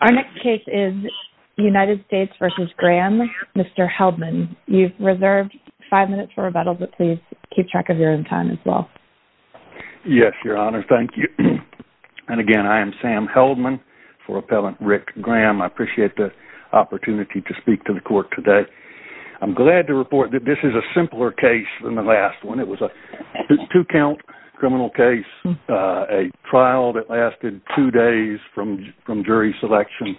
Our next case is United States v. Graham. Mr. Heldman, you've reserved 5 minutes for rebuttal, but please keep track of your own time as well. Yes, Your Honor. Thank you. And again, I am Sam Heldman for Appellant Rick Graham. I appreciate the opportunity to speak to the court today. I'm glad to report that this is a simpler case than the last one. It was a two-count criminal case, a trial that lasted two days from jury selection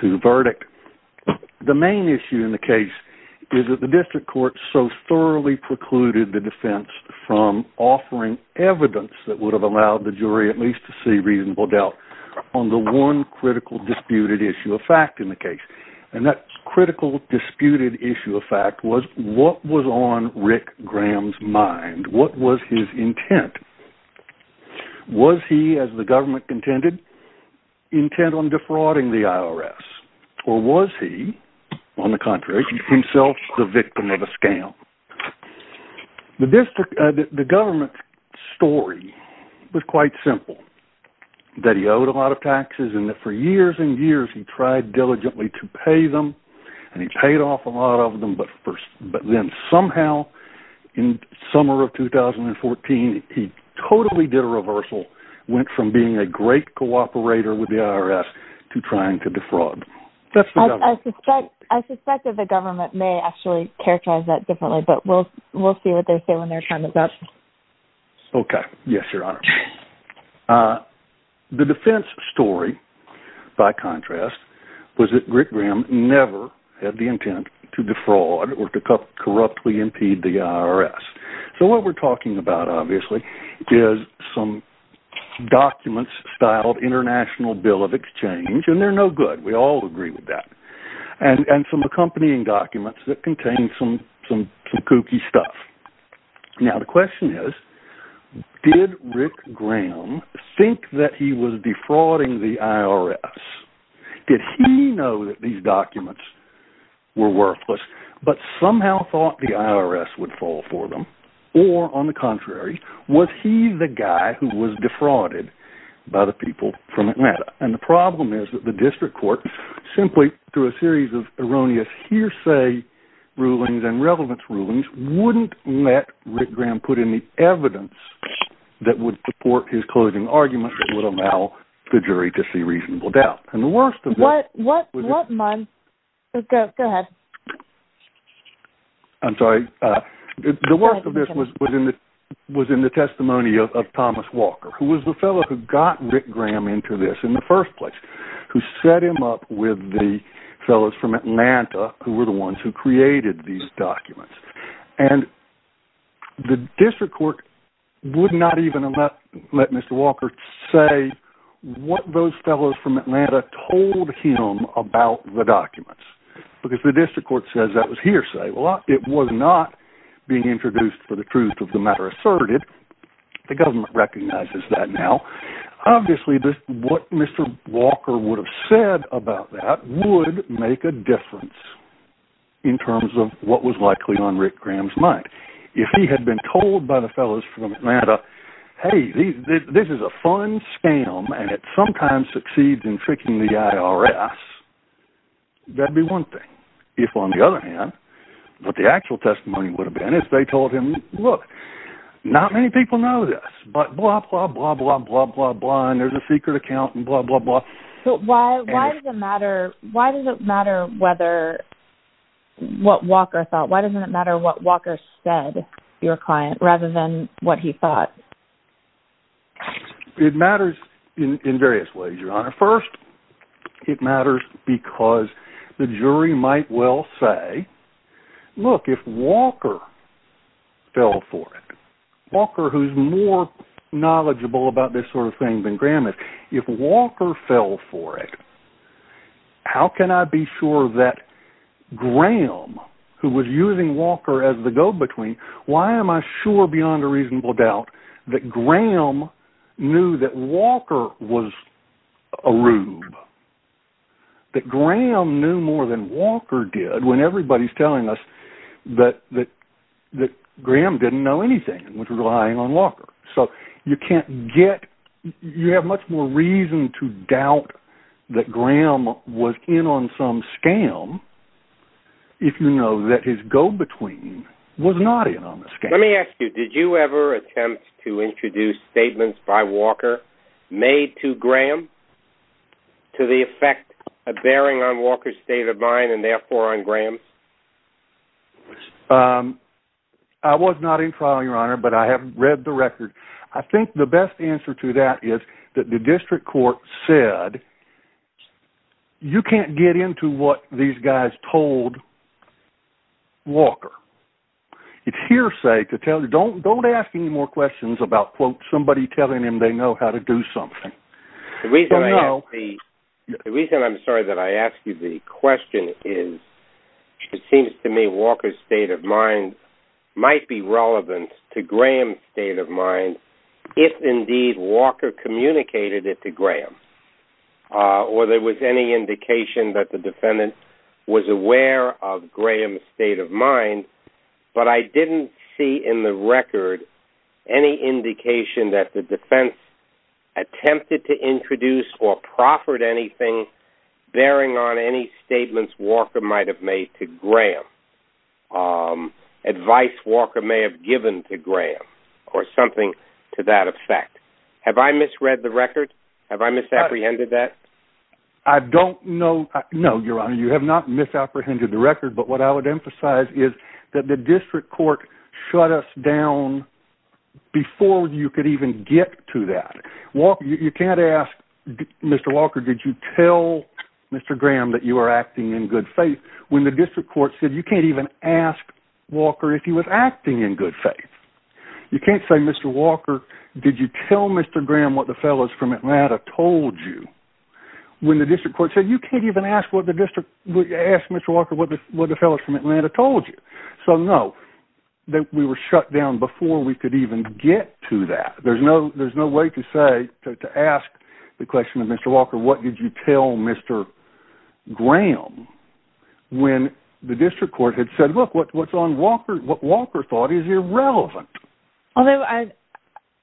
to verdict. The main issue in the case is that the district court so thoroughly precluded the defense from offering evidence that would have allowed the jury at least to see reasonable doubt on the one critical disputed issue of fact in the case. And that critical disputed issue of fact was what was on Rick Graham's mind? What was his intent? Was he, as the government contended, intent on defrauding the IRS? Or was he, on the contrary, himself the victim of a scam? The government story was quite simple, that he owed a lot of taxes and that for years and years he tried diligently to pay them, and he paid off a lot of them, but then somehow in summer of 2014 he totally did a reversal, went from being a great cooperator with the IRS to trying to defraud. I suspect that the government may actually characterize that differently, but we'll see what they say when their time is up. Okay, yes, your honor. The defense story, by contrast, was that Rick Graham never had the intent to defraud or to corruptly impede the IRS. So what we're talking about, obviously, is some documents styled International Bill of Exchange, and they're no good, we all agree with that, and some accompanying documents that contain some kooky stuff. Now the question is, did Rick Graham think that he was defrauding the IRS? Did he know that these documents were worthless, but somehow thought the IRS would fall for them? Or, on the contrary, was he the guy who was defrauded by the people from Atlanta? And the problem is that the district court, simply through a series of erroneous hearsay rulings and relevance rulings, wouldn't let Rick Graham put in the evidence that would support his closing argument that would allow the jury to see reasonable doubt. And the worst of this... Go ahead. I'm sorry. The worst of this was in the testimony of Thomas Walker, who was the fellow who got Rick Graham up with the fellows from Atlanta, who were the ones who created these documents. And the district court would not even let Mr. Walker say what those fellows from Atlanta told him about the documents. Because the district court says that was hearsay. Well, it was not being introduced for the truth of the matter asserted. The government recognizes that now. Obviously, what Mr. Walker would have said about that would make a difference in terms of what was likely on Rick Graham's mind. If he had been told by the fellows from Atlanta, hey, this is a fun scam, and it sometimes succeeds in tricking the IRS, that'd be one thing. If, on the other hand, what the actual testimony would have been if they told him, look, not many people know this, but blah, blah, blah, blah, blah, blah, blah, and there's a secret account and blah, blah, blah. So why does it matter what Walker thought? Why doesn't it matter what Walker said your client, rather than what he thought? It matters in various ways, Your Honor. First, it matters because the jury might well say, look, if Walker fell for it, Walker, who's more knowledgeable about this sort of thing than Graham, if Walker fell for it, how can I be sure that Graham, who was using Walker as the go-between, why am I sure beyond a reasonable doubt that Graham knew that Walker was a rube? That Graham knew more than Walker did, when everybody's telling us that Graham didn't know anything, which was relying on Walker. So you can't get, you have much more reason to doubt that Graham was in on some scam if you know that his go-between was not in on the scam. Let me ask you, did you ever attempt to introduce statements by Walker made to Graham? To the effect of bearing on Walker's state of mind and therefore on Graham's? I was not in trial, Your Honor, but I have read the record. I think the best answer to that is that the district court said, you can't get into what these guys told Walker. It's hearsay to tell you, don't ask any more questions about, quote, somebody telling him they know how to do something. The reason I'm sorry that I asked you the question is, it seems to me Walker's state of mind might be relevant to Graham's state of mind, if indeed Walker communicated it to Graham, or there was any indication that the defendant was aware of Graham's state of mind, but I didn't see in the record any indication that the defense attempted to introduce or proffered anything bearing on any statements Walker might've made to Graham, advice Walker may have given to Graham, or something to that effect. Have I misread the record? Have I misapprehended that? I don't know. No, Your Honor, you have not misapprehended the record, but what I would emphasize is that the district court shut us down before you could even get to that. You can't ask, Mr. Walker, did you tell Mr. Graham that you were acting in good faith, when the district court said you can't even ask Walker if he was acting in good faith. You can't say, Mr. Walker, did you tell Mr. Graham what the fellows from Atlanta told you, when the district court said you can't even ask Mr. Walker what the fellows from Atlanta told you. So, no, we were shut down before we could even get to that. There's no way to say, to ask the question of Mr. Walker, what did you tell Mr. Graham, when the district court had said, look, what Walker thought is irrelevant. Although,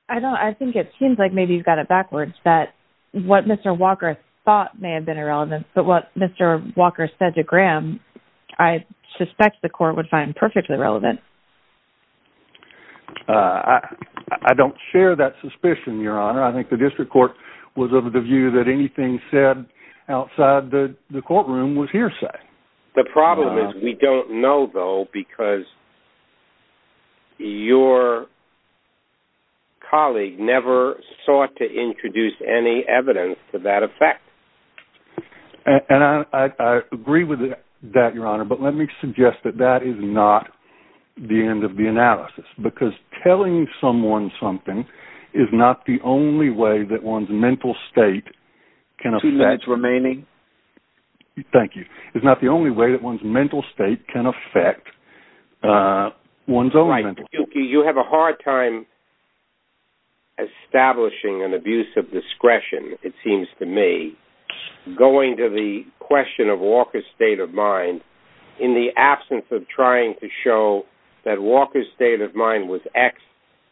I think it seems like maybe you've said it backwards, that what Mr. Walker thought may have been irrelevant, but what Mr. Walker said to Graham, I suspect the court would find perfectly relevant. I don't share that suspicion, Your Honor. I think the district court was of the view that anything said outside the courtroom was hearsay. The problem is, we don't know, though, because your colleague never sought to introduce any evidence to that effect. And I agree with that, Your Honor, but let me suggest that that is not the end of the analysis, because telling someone something is not the only way that one's mental state can affect one's own mental state. You have a hard time establishing an abuse of discretion, it seems to me, going to the question of Walker's state of mind, in the absence of trying to show that Walker's state of mind was X,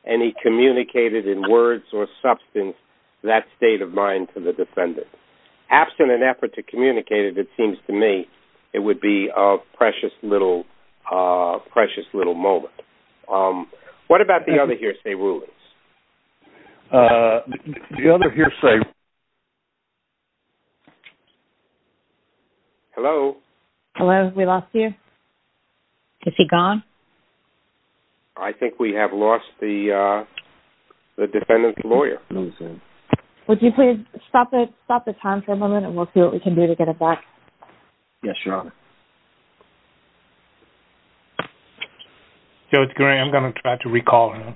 and he communicated in words or substance that to the defendant. Absent an effort to communicate it, it seems to me it would be a precious little moment. What about the other hearsay rulings? The other hearsay... Hello? Hello, we lost you? Is he gone? I think we have lost the defendant's lawyer. Would you please stop the time for a moment, and we'll see what we can do to get it back. Yes, Your Honor. Joe, it's great. I'm going to try to recall him.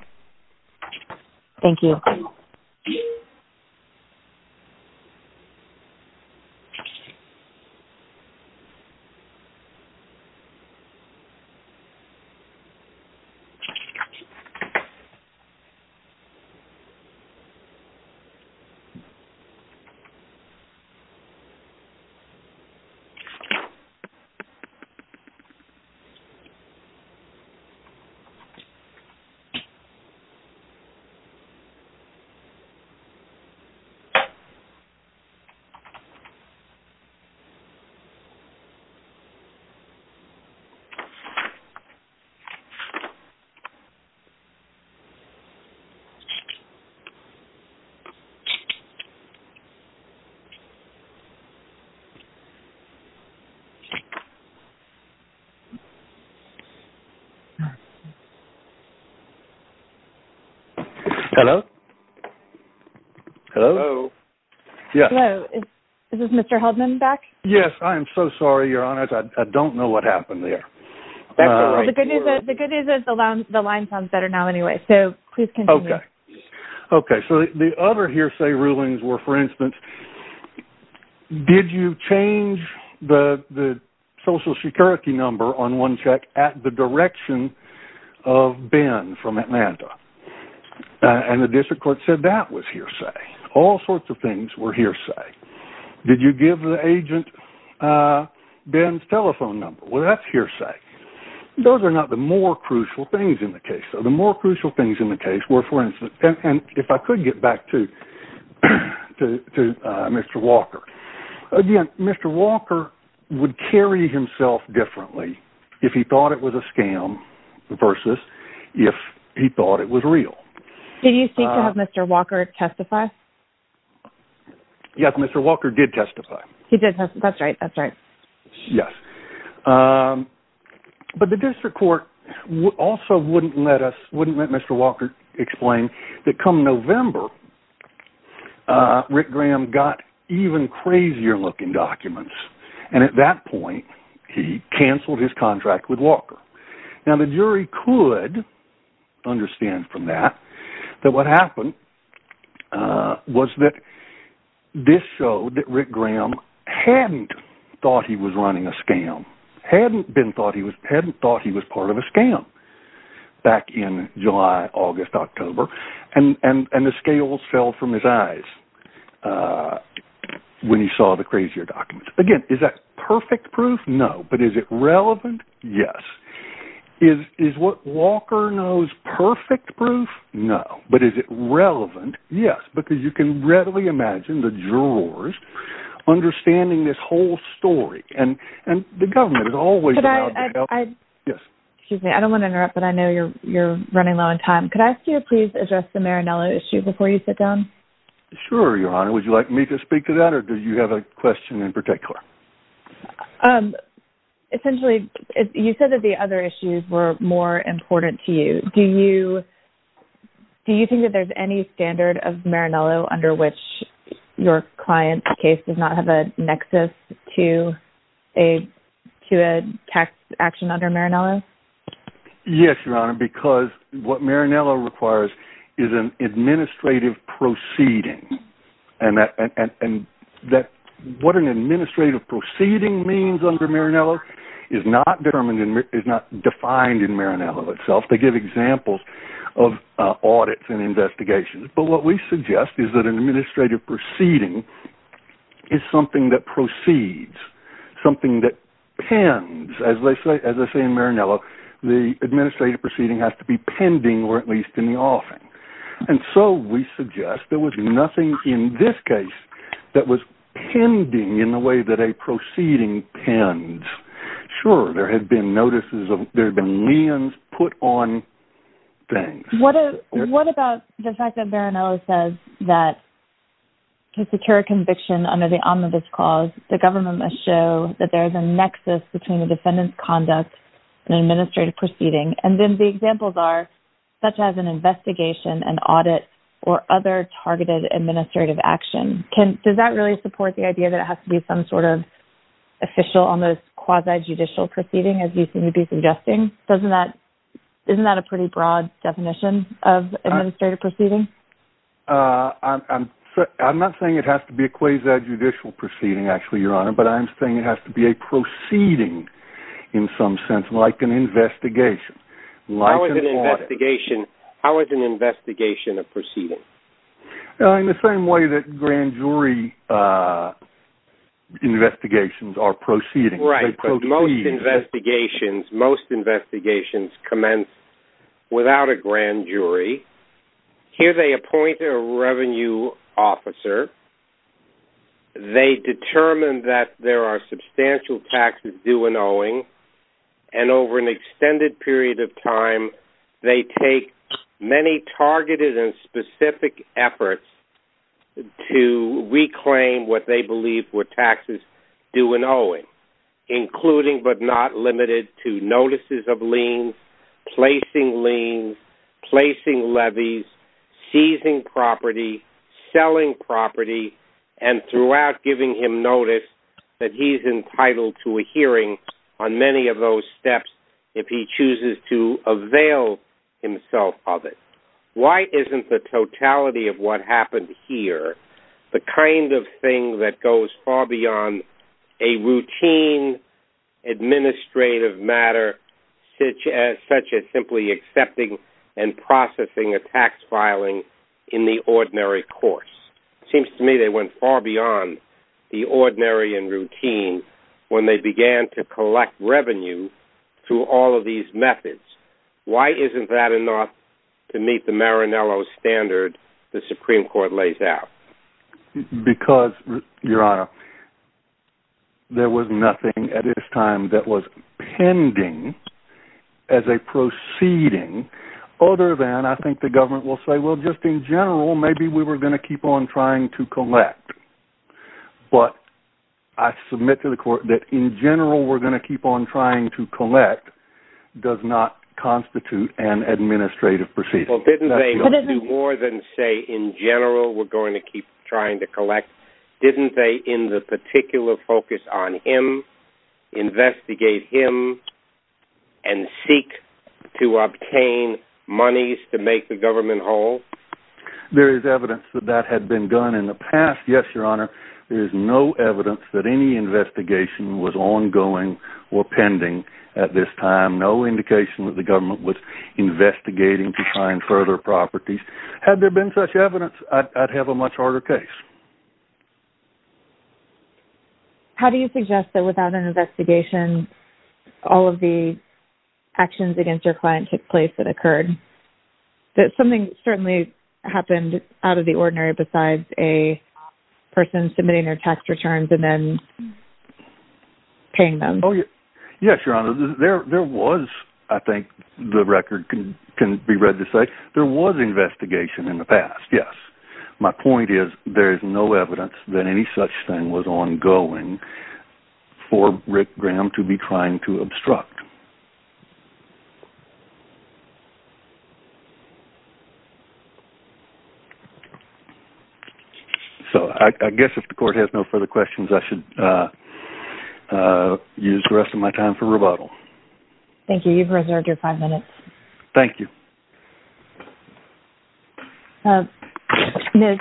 Thank you. Hello? Hello? Hello, is Mr. Haldeman back? Yes, I am so sorry, Your Honor. I don't know what happened there. That's all right. The good news is the line sounds better now anyway, so please continue. Okay, so the other hearsay rulings were, for instance, did you change the social security number on one check at the direction of Ben from Atlanta? And the district court said that was hearsay. All sorts of things were hearsay. Did you give the agent Ben's telephone number? Well, that's hearsay. Those are not the more crucial things in the case. The more crucial things in the case were, for instance, and if I could get back to Mr. Walker. Again, Mr. Walker would carry himself differently if he thought it was a scam versus if he thought it was real. Did you seek to have Mr. Walker testify? Yes, Mr. Walker did testify. He did testify. That's right. That's right. Yes. But the district court also wouldn't let us, wouldn't let Mr. Walker explain that come November, Rick Graham got even crazier looking documents. And at that point, he cancelled his contract with Walker. Now, the jury could understand from that that what happened was that this showed that Rick Graham hadn't thought he was running a scam, hadn't thought he was part of a scam back in July, August, October, and the scales fell from his eyes when he saw the crazier documents. Again, is that perfect proof? No. But is it relevant? Yes. Is what Walker knows perfect proof? No. But is it relevant? Yes. Because you can readily imagine the jurors understanding this whole story. And the government is always- Excuse me. I don't want to interrupt, but I know you're running low on time. Could I ask you to address the Marinello issue before you sit down? Sure, Your Honor. Would you like me to speak to that or do you have a question in particular? Essentially, you said that the other issues were more important to you. Do you think that there's any standard of Marinello under which your client's case does not have a nexus to a tax action under Marinello? Yes, Your Honor, because what Marinello requires is an administrative proceeding. What an administrative proceeding means under Marinello is not defined in Marinello itself. They give examples of audits and investigations. But what we suggest is that an administrative the administrative proceeding has to be pending or at least in the offing. And so we suggest there was nothing in this case that was pending in the way that a proceeding pens. Sure, there had been notices of there had been liens put on things. What about the fact that Marinello says that to secure a conviction under the omnibus clause, the government must show that there is a nexus between the defendant's conduct and administrative proceeding. And then the examples are such as an investigation, an audit, or other targeted administrative action. Does that really support the idea that it has to be some sort of official, almost quasi-judicial proceeding, as you seem to be suggesting? Isn't that a pretty broad definition of administrative proceeding? Uh, I'm not saying it has to be a quasi-judicial proceeding, actually, Your Honor, but I'm saying it has to be a proceeding in some sense, like an investigation. How is an investigation a proceeding? In the same way that grand jury investigations are proceedings. Right, most investigations, most investigations commence without a grand jury. Here they appoint a revenue officer, they determine that there are substantial taxes due and owing, and over an extended period of time, they take many targeted and specific efforts to reclaim what they believe were taxes due and owing, including but not limited to notices of placing levies, seizing property, selling property, and throughout giving him notice that he's entitled to a hearing on many of those steps if he chooses to avail himself of it. Why isn't the totality of what happened here the kind of thing that goes far beyond a routine administrative matter such as simply accepting and processing a tax filing in the ordinary course? Seems to me they went far beyond the ordinary and routine when they began to collect revenue through all of these methods. Why isn't that enough to meet the Maranello standard the Supreme Court lays out? Because your honor, there was nothing at this time that was pending as a proceeding other than I think the government will say well just in general maybe we were going to keep on trying to collect, but I submit to the court that in general we're going to keep on trying to collect does not constitute an administrative procedure. Well didn't they do more than say in general we're going to keep trying to collect? Didn't they in the particular focus on him investigate him and seek to obtain monies to make the government whole? There is evidence that that had been done in the past, yes your honor. There is no evidence that any investigation was ongoing or pending at this time. No indication that the government was a much harder case. How do you suggest that without an investigation all of the actions against your client took place that occurred? That something certainly happened out of the ordinary besides a person submitting their tax returns and then paying them? Oh yes your honor, there was I think the record can be read to say there was investigation in the past, yes. My point is there is no evidence that any such thing was ongoing for Rick Graham to be trying to obstruct. So I guess if the court has no further questions I should use the rest of my time for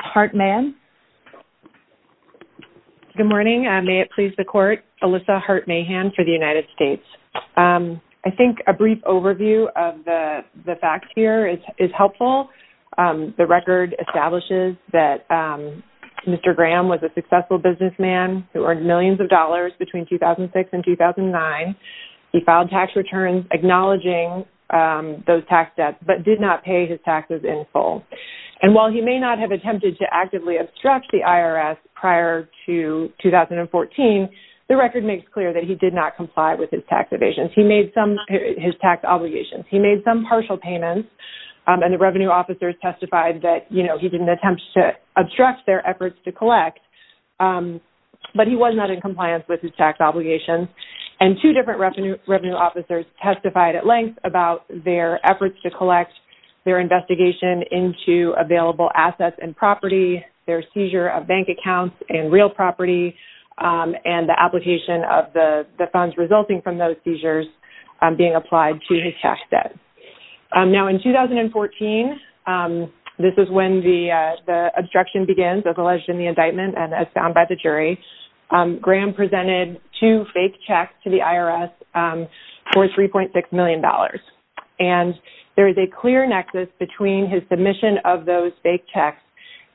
heart man. Good morning, may it please the court, Alyssa Hart-Mahan for the United States. I think a brief overview of the facts here is helpful. The record establishes that Mr. Graham was a successful businessman who earned millions of dollars between 2006 and 2009. He filed tax returns acknowledging those tax debts but did not pay his taxes in full. And while he may not have attempted to actively obstruct the IRS prior to 2014, the record makes clear that he did not comply with his tax evasions. He made some his tax obligations. He made some partial payments and the revenue officers testified that you know he didn't attempt to obstruct their efforts to collect but he was not in compliance with his tax obligations. And two different revenue officers testified at length about their efforts to collect their investigation into available assets and property, their seizure of bank accounts and real property, and the application of the funds resulting from those seizures being applied to his tax debt. Now in 2014, this is when the obstruction begins as alleged in the indictment and as found by the jury, Graham presented two fake checks to the IRS for $3.6 million. And there is a clear nexus between his submission of those fake checks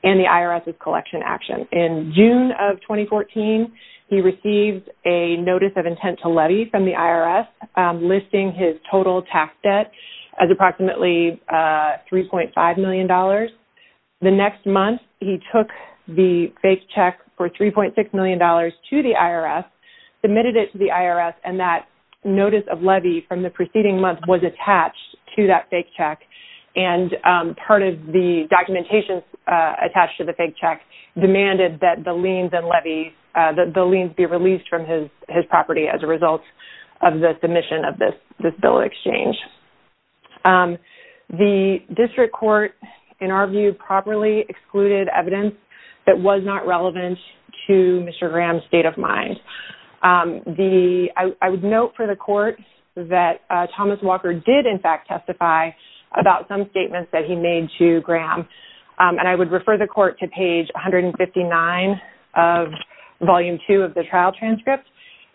and the IRS's collection action. In June of 2014, he received a notice of intent to levy from the IRS listing his total tax debt as approximately $3.5 million. The next month, he took the fake check for $3.6 million to the IRS, submitted it to the IRS and that notice of levy from the preceding month was attached to that fake check and part of the documentation attached to the fake check demanded that the liens be released from his property as a result of the submission of this bill of exchange. The district court, in our view, properly excluded evidence that was not Thomas Walker did in fact testify about some statements that he made to Graham. And I would refer the court to page 159 of volume two of the trial transcript,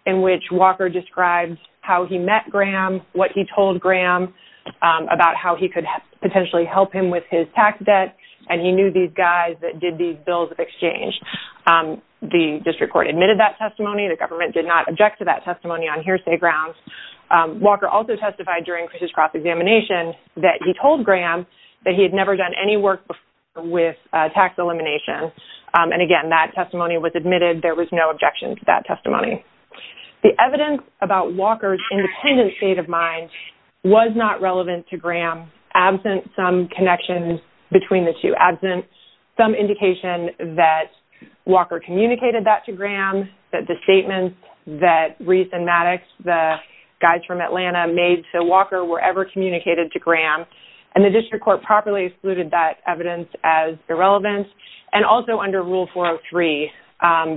in which Walker describes how he met Graham, what he told Graham about how he could potentially help him with his tax debt, and he knew these guys that did these bills of exchange. The district court admitted that testimony, the government did not object to that testimony on during Chris's cross-examination, that he told Graham that he had never done any work with tax elimination. And again, that testimony was admitted, there was no objection to that testimony. The evidence about Walker's independent state of mind was not relevant to Graham, absent some connections between the two, absent some indication that Walker communicated that to Graham, that the statements that Reese and Maddox, the guys from Atlanta, made to Walker were ever communicated to Graham. And the district court properly excluded that evidence as irrelevant, and also under rule 403,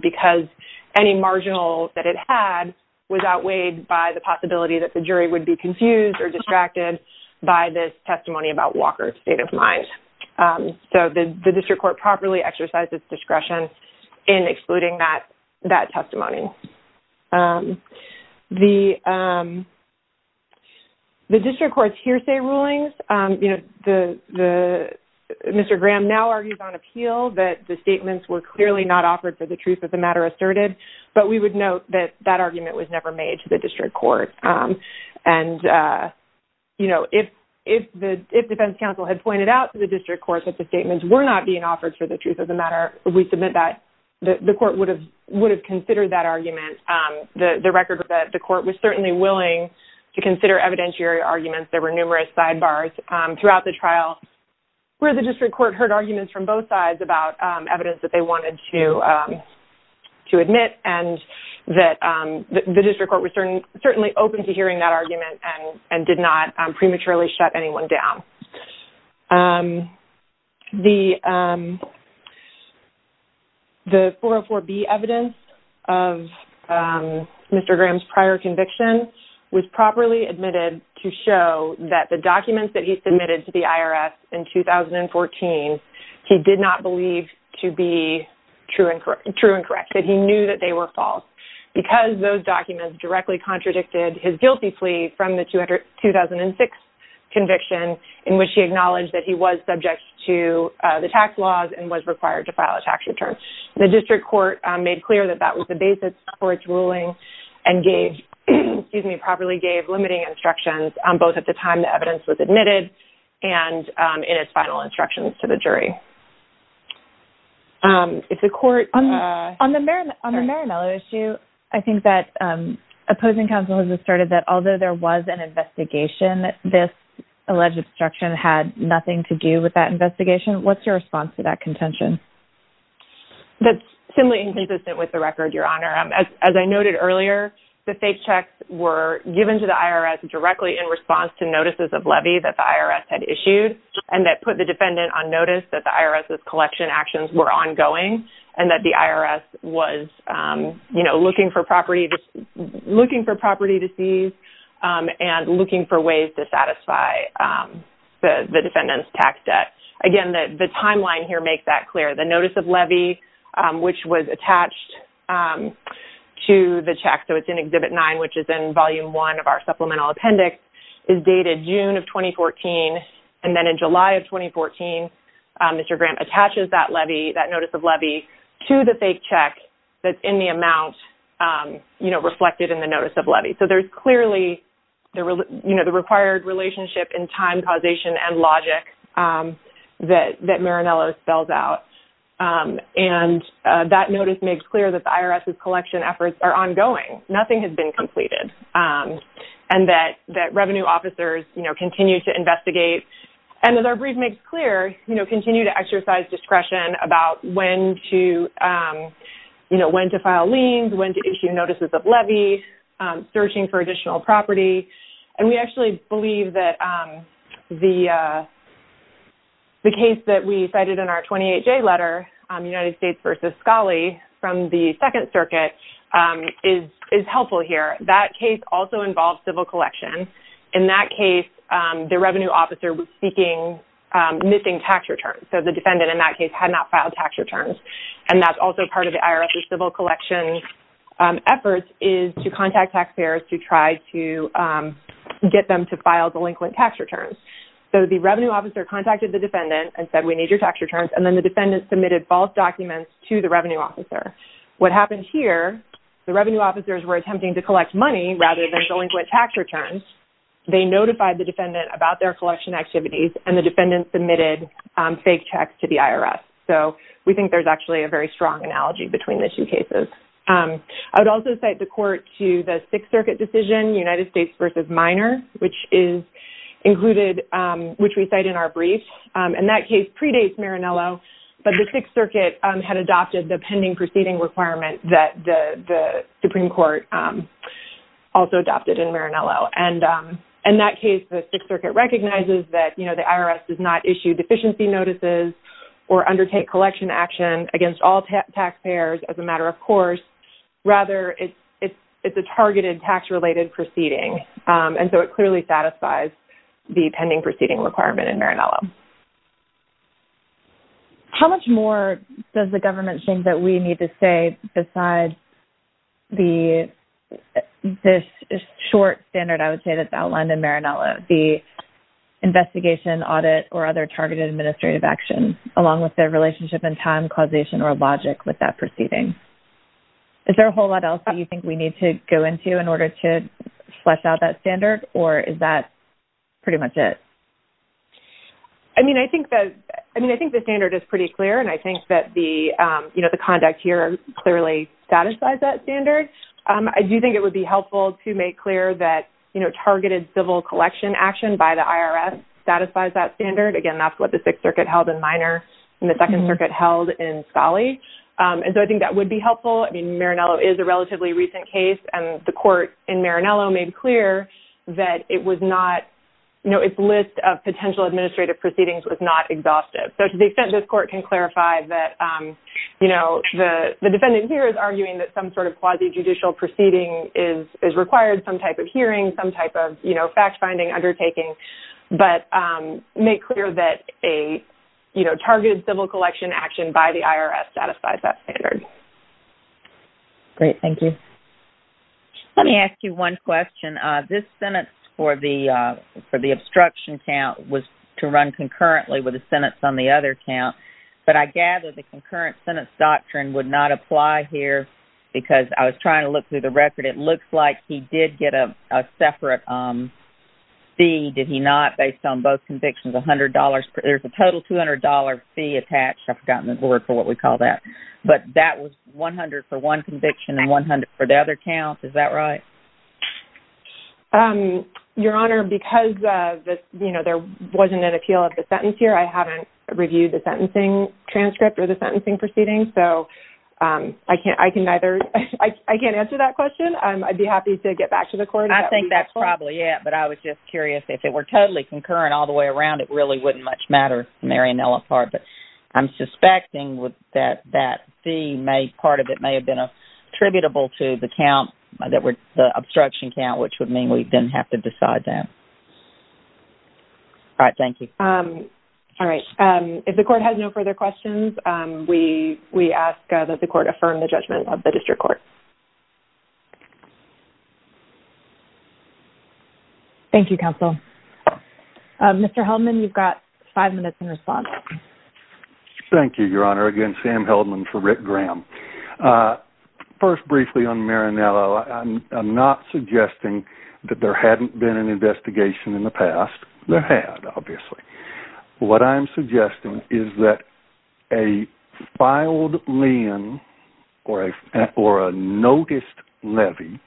because any marginal that it had was outweighed by the possibility that the jury would be confused or distracted by this testimony about Walker's state of mind. So the district court properly exercised its discretion in excluding that testimony. The district court's hearsay rulings, Mr. Graham now argues on appeal that the statements were clearly not offered for the truth of the matter asserted, but we would note that that argument was never made to the district court. And, you know, if the defense counsel had pointed out to the district court that the statements were not being offered for the truth of the matter, we submit that the court would have considered that argument. The record that the court was certainly willing to consider evidentiary arguments, there were numerous sidebars throughout the trial, where the district court heard arguments from both sides about evidence that they wanted to admit, and that the district court was certainly open to hearing that argument and did not prematurely shut anyone down. The 404B evidence of Mr. Graham's prior conviction was properly admitted to show that the documents that he submitted to the IRS in 2014, he did not believe to be true and correct, that he knew that they were false, because those documents directly contradicted his guilty plea from the 2006 conviction in which he acknowledged that he was subject to the tax laws and was required to file a tax return. The district court made clear that that was the basis for its ruling and gave, excuse me, properly gave limiting instructions both at the time the evidence was admitted and in its final instructions to the jury. If the court... On the Marimela issue, I think that opposing counsel has asserted that although there was an investigation, this alleged obstruction had nothing to do with that investigation. What's your response to that contention? That's simply inconsistent with the record, Your Honor. As I noted earlier, the fake checks were given to the IRS directly in response to notices of levy that the IRS had issued and that put the defendant on notice that the IRS's collection actions were ongoing and that the IRS was looking for property to seize and looking for ways to satisfy the defendant's tax debt. Again, the timeline here makes that the notice of levy attached to the check, so it's in Exhibit 9, which is in Volume 1 of our Supplemental Appendix, is dated June of 2014, and then in July of 2014, Mr. Grant attaches that levy, that notice of levy, to the fake check that's in the amount reflected in the notice of levy. So there's clearly the required relationship in time causation and logic that Marimela spells out. And that notice makes clear that the IRS's collection efforts are ongoing. Nothing has been completed. And that revenue officers, you know, continue to investigate. And as our brief makes clear, you know, continue to exercise discretion about when to, you know, when to file liens, when to issue notices of levy, searching for additional property. And we actually believe that the case that we cited in our 28-J letter, United States v. Scali from the Second Circuit, is helpful here. That case also involves civil collection. In that case, the revenue officer was seeking missing tax returns. So the defendant in that case had not filed tax returns. And that's also part of the IRS's civil collection efforts is to contact taxpayers to try to get them to file delinquent tax returns. So the revenue officer contacted the defendant and said, we need your tax returns. And then the defendant submitted false documents to the revenue officer. What happened here, the revenue officers were attempting to collect money rather than delinquent tax returns. They notified the defendant about their collection activities and the defendant submitted fake checks to the IRS. So we think there's actually a very strong analogy between the two cases. I would also cite the court to the Sixth Circuit decision, United States v. Minor, which is included, which we cite in our brief. And that case predates Marinello. But the Sixth Circuit had adopted the pending proceeding requirement that the Supreme Court also adopted in Marinello. And in that case, the Sixth Circuit recognizes that the IRS does not issue deficiency notices or undertake collection action against all taxpayers as a matter of course. Rather, it's a targeted tax-related proceeding. And so it clearly satisfies the pending proceeding requirement in Marinello. How much more does the government think that we need to say besides the short standard, I would say, that's outlined in Marinello, the investigation, audit, or other targeted administrative action, along with their relationship and time causation or logic with that proceeding? Is there a whole lot else that you think we need to go into in order to flesh out that standard? Or is that pretty much it? I mean, I think the standard is pretty clear. And I think that the conduct here clearly satisfies that standard. I do think it would be helpful to make clear that targeted civil collection action by the IRS satisfies that standard. Again, that's what the Sixth Circuit held in Minor and the Second Circuit held in Scali. And so I think that would be helpful. I mean, Marinello is a relatively recent case. And the court in Marinello made clear that it was not, you know, its list of potential administrative proceedings was not exhaustive. So to the extent this court can clarify that, you know, the defendant here is arguing that some sort of quasi judicial proceeding is required, some type of hearing, some type of, you know, fact-finding undertaking. But make clear that a, you know, targeted civil collection action by the IRS satisfies that standard. Great. Thank you. Let me ask you one question. This sentence for the obstruction count was to run concurrently with the sentence on the other count. But I gather the concurrent sentence doctrine would not apply here because I was trying to look through the record. It looks like he did get a separate fee, did he not, based on both convictions, $100. There's a total $200 fee attached. I've forgotten the word for what we call that. But that was $100 for one conviction and $100 for the other count. Is that right? Your Honor, because, you know, there wasn't an appeal of the sentence here, I haven't reviewed the sentencing transcript or the sentencing proceedings. So I can't answer that question. I'd be happy to get back to the court. I think that's probably it. But I was just curious, if it were totally concurrent all the way around, it really wouldn't much matter, the Mariannella part. But I'm suspecting with that that fee may, part of it may have been attributable to the count, the obstruction count, which would mean we didn't have to decide that. All right. Thank you. All right. If the court has no further questions, we ask that the court affirm the judgment of the court. Thank you, counsel. Mr. Heldman, you've got five minutes in response. Thank you, Your Honor. Again, Sam Heldman for Rick Graham. First, briefly on Mariannella, I'm not suggesting that there hadn't been an investigation in the past. There had, obviously. What I'm suggesting is that a filed lien or a noticed levy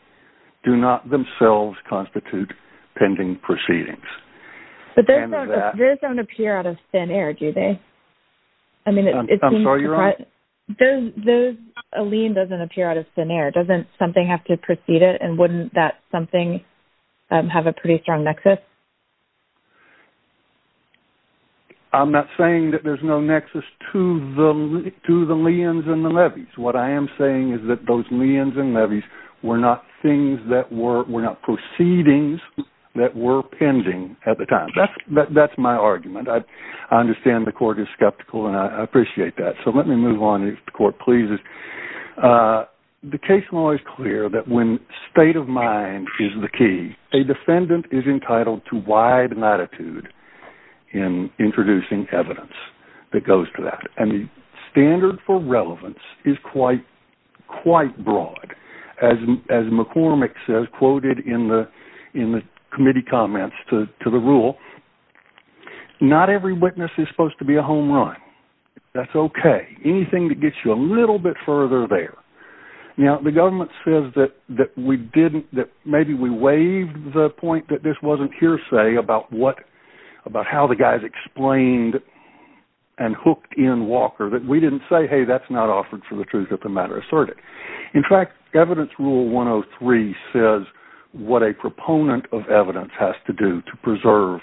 do not themselves constitute pending proceedings. But those don't appear out of thin air, do they? I'm sorry, Your Honor? A lien doesn't appear out of thin air. Doesn't something have to precede it? And wouldn't that something have a pretty strong nexus? I'm not saying that there's no nexus to the liens and the levies. What I am saying is that those liens and levies were not proceedings that were pending at the time. That's my argument. I understand the court is skeptical, and I appreciate that. So let me move on if the court pleases. The case law is clear that when state of mind is the key, a defendant is entitled to wide latitude in introducing evidence that goes to that. And the standard for relevance is quite broad. As McCormick says, quoted in the committee comments to the rule, not every witness is supposed to be a home run. That's okay. Anything that gets you a little bit further there. Now, the government says that maybe we waived the point that this wasn't hearsay about about how the guys explained and hooked in Walker that we didn't say, hey, that's not offered for the truth of the matter asserted. In fact, evidence rule 103 says what a proponent of evidence has to do to preserve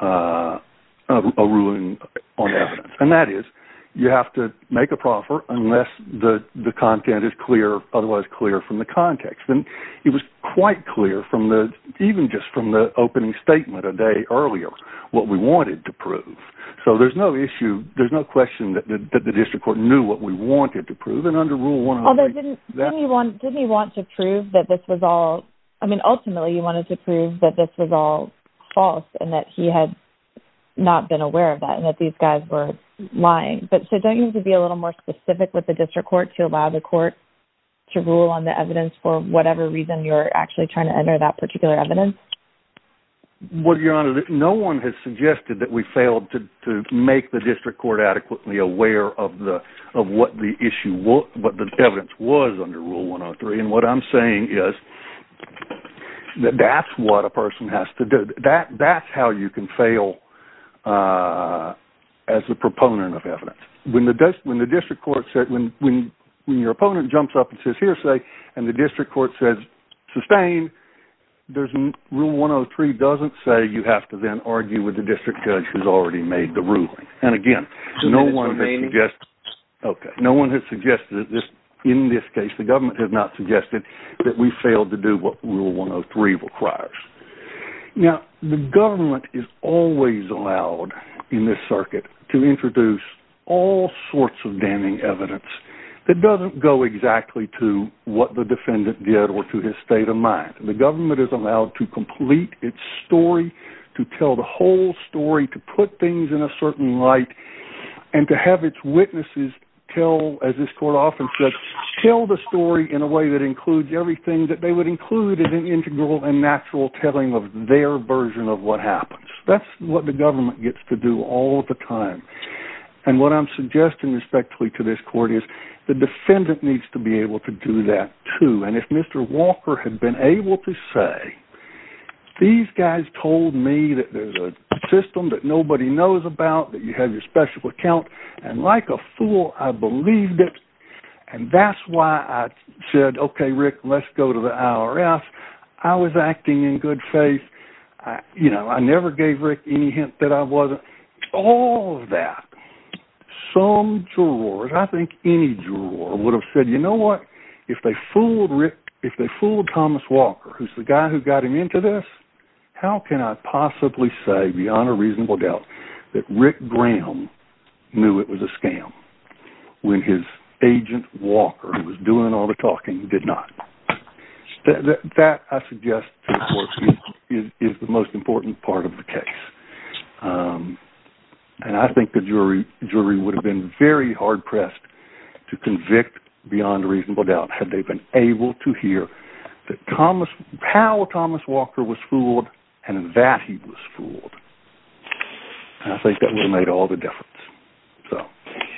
a ruling on evidence. And that is you have to make a proffer unless the content is clear, otherwise clear from the context. And it was quite clear from the, even just from the opening statement a day earlier, what we wanted to prove. So there's no issue. There's no question that the district court knew what we wanted to prove. Didn't he want to prove that this was all, I mean, ultimately he wanted to prove that this was all false and that he had not been aware of that and that these guys were lying. But so don't you need to be a little more specific with the district court to allow the court to rule on the evidence for whatever reason you're actually trying to enter that particular evidence? Well, your honor, no one has suggested that we failed to make the district court adequately aware of the, of what the issue was, what the evidence was under rule 103. And what I'm saying is that that's what a person has to do. That that's how you can fail as a proponent of evidence. When the desk, when the district court said, when, when, when your opponent jumps up and says here, say, and the district court says sustained, there's rule 103 doesn't say you have to then argue with the district judge who's already made the ruling. And again, no one has suggested this in this case, the government has not suggested that we failed to do what rule 103 requires. Now the government is always allowed in this circuit to introduce all sorts of damning evidence that doesn't go exactly to what the defendant did or to his state of mind. And the government is allowed to complete its story, to tell the whole story, to put things in a certain light and to have its witnesses tell, as this court often says, tell the story in a way that includes everything that they would include in an integral and natural telling of their version of what happens. That's what the government gets to do all the time. And what I'm suggesting respectfully to this court is the defendant needs to be able to do that too. And if Mr. Walker had been able to say, these guys told me that there's a system that nobody knows about, that you have your special account. And like a fool, I believed it. And that's why I said, okay, Rick, let's go to the IRS. I was acting in good faith. I, you know, I never gave Rick any hint that I wasn't. All of that, some jurors, I think any juror would have said, you know what? If they fooled Rick, if they fooled Thomas Walker, who's the guy who got him into this, how can I possibly say beyond a reasonable doubt that Rick Graham knew it was a scam when his agent Walker was doing all the talking, did not. That I suggest is the most important part of the case. And I think the jury jury would have been very hard pressed to convict beyond a reasonable doubt. Had they been able to hear that Thomas, how Thomas Walker was fooled and that he was fooled. And I think that would have made all the difference. So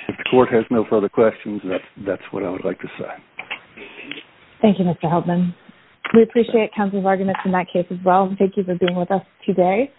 if the court has no further questions, that's, that's what I would like to say. Thank you, Mr. Heldman. We appreciate countless arguments in that case as well. Thank you for being with us today.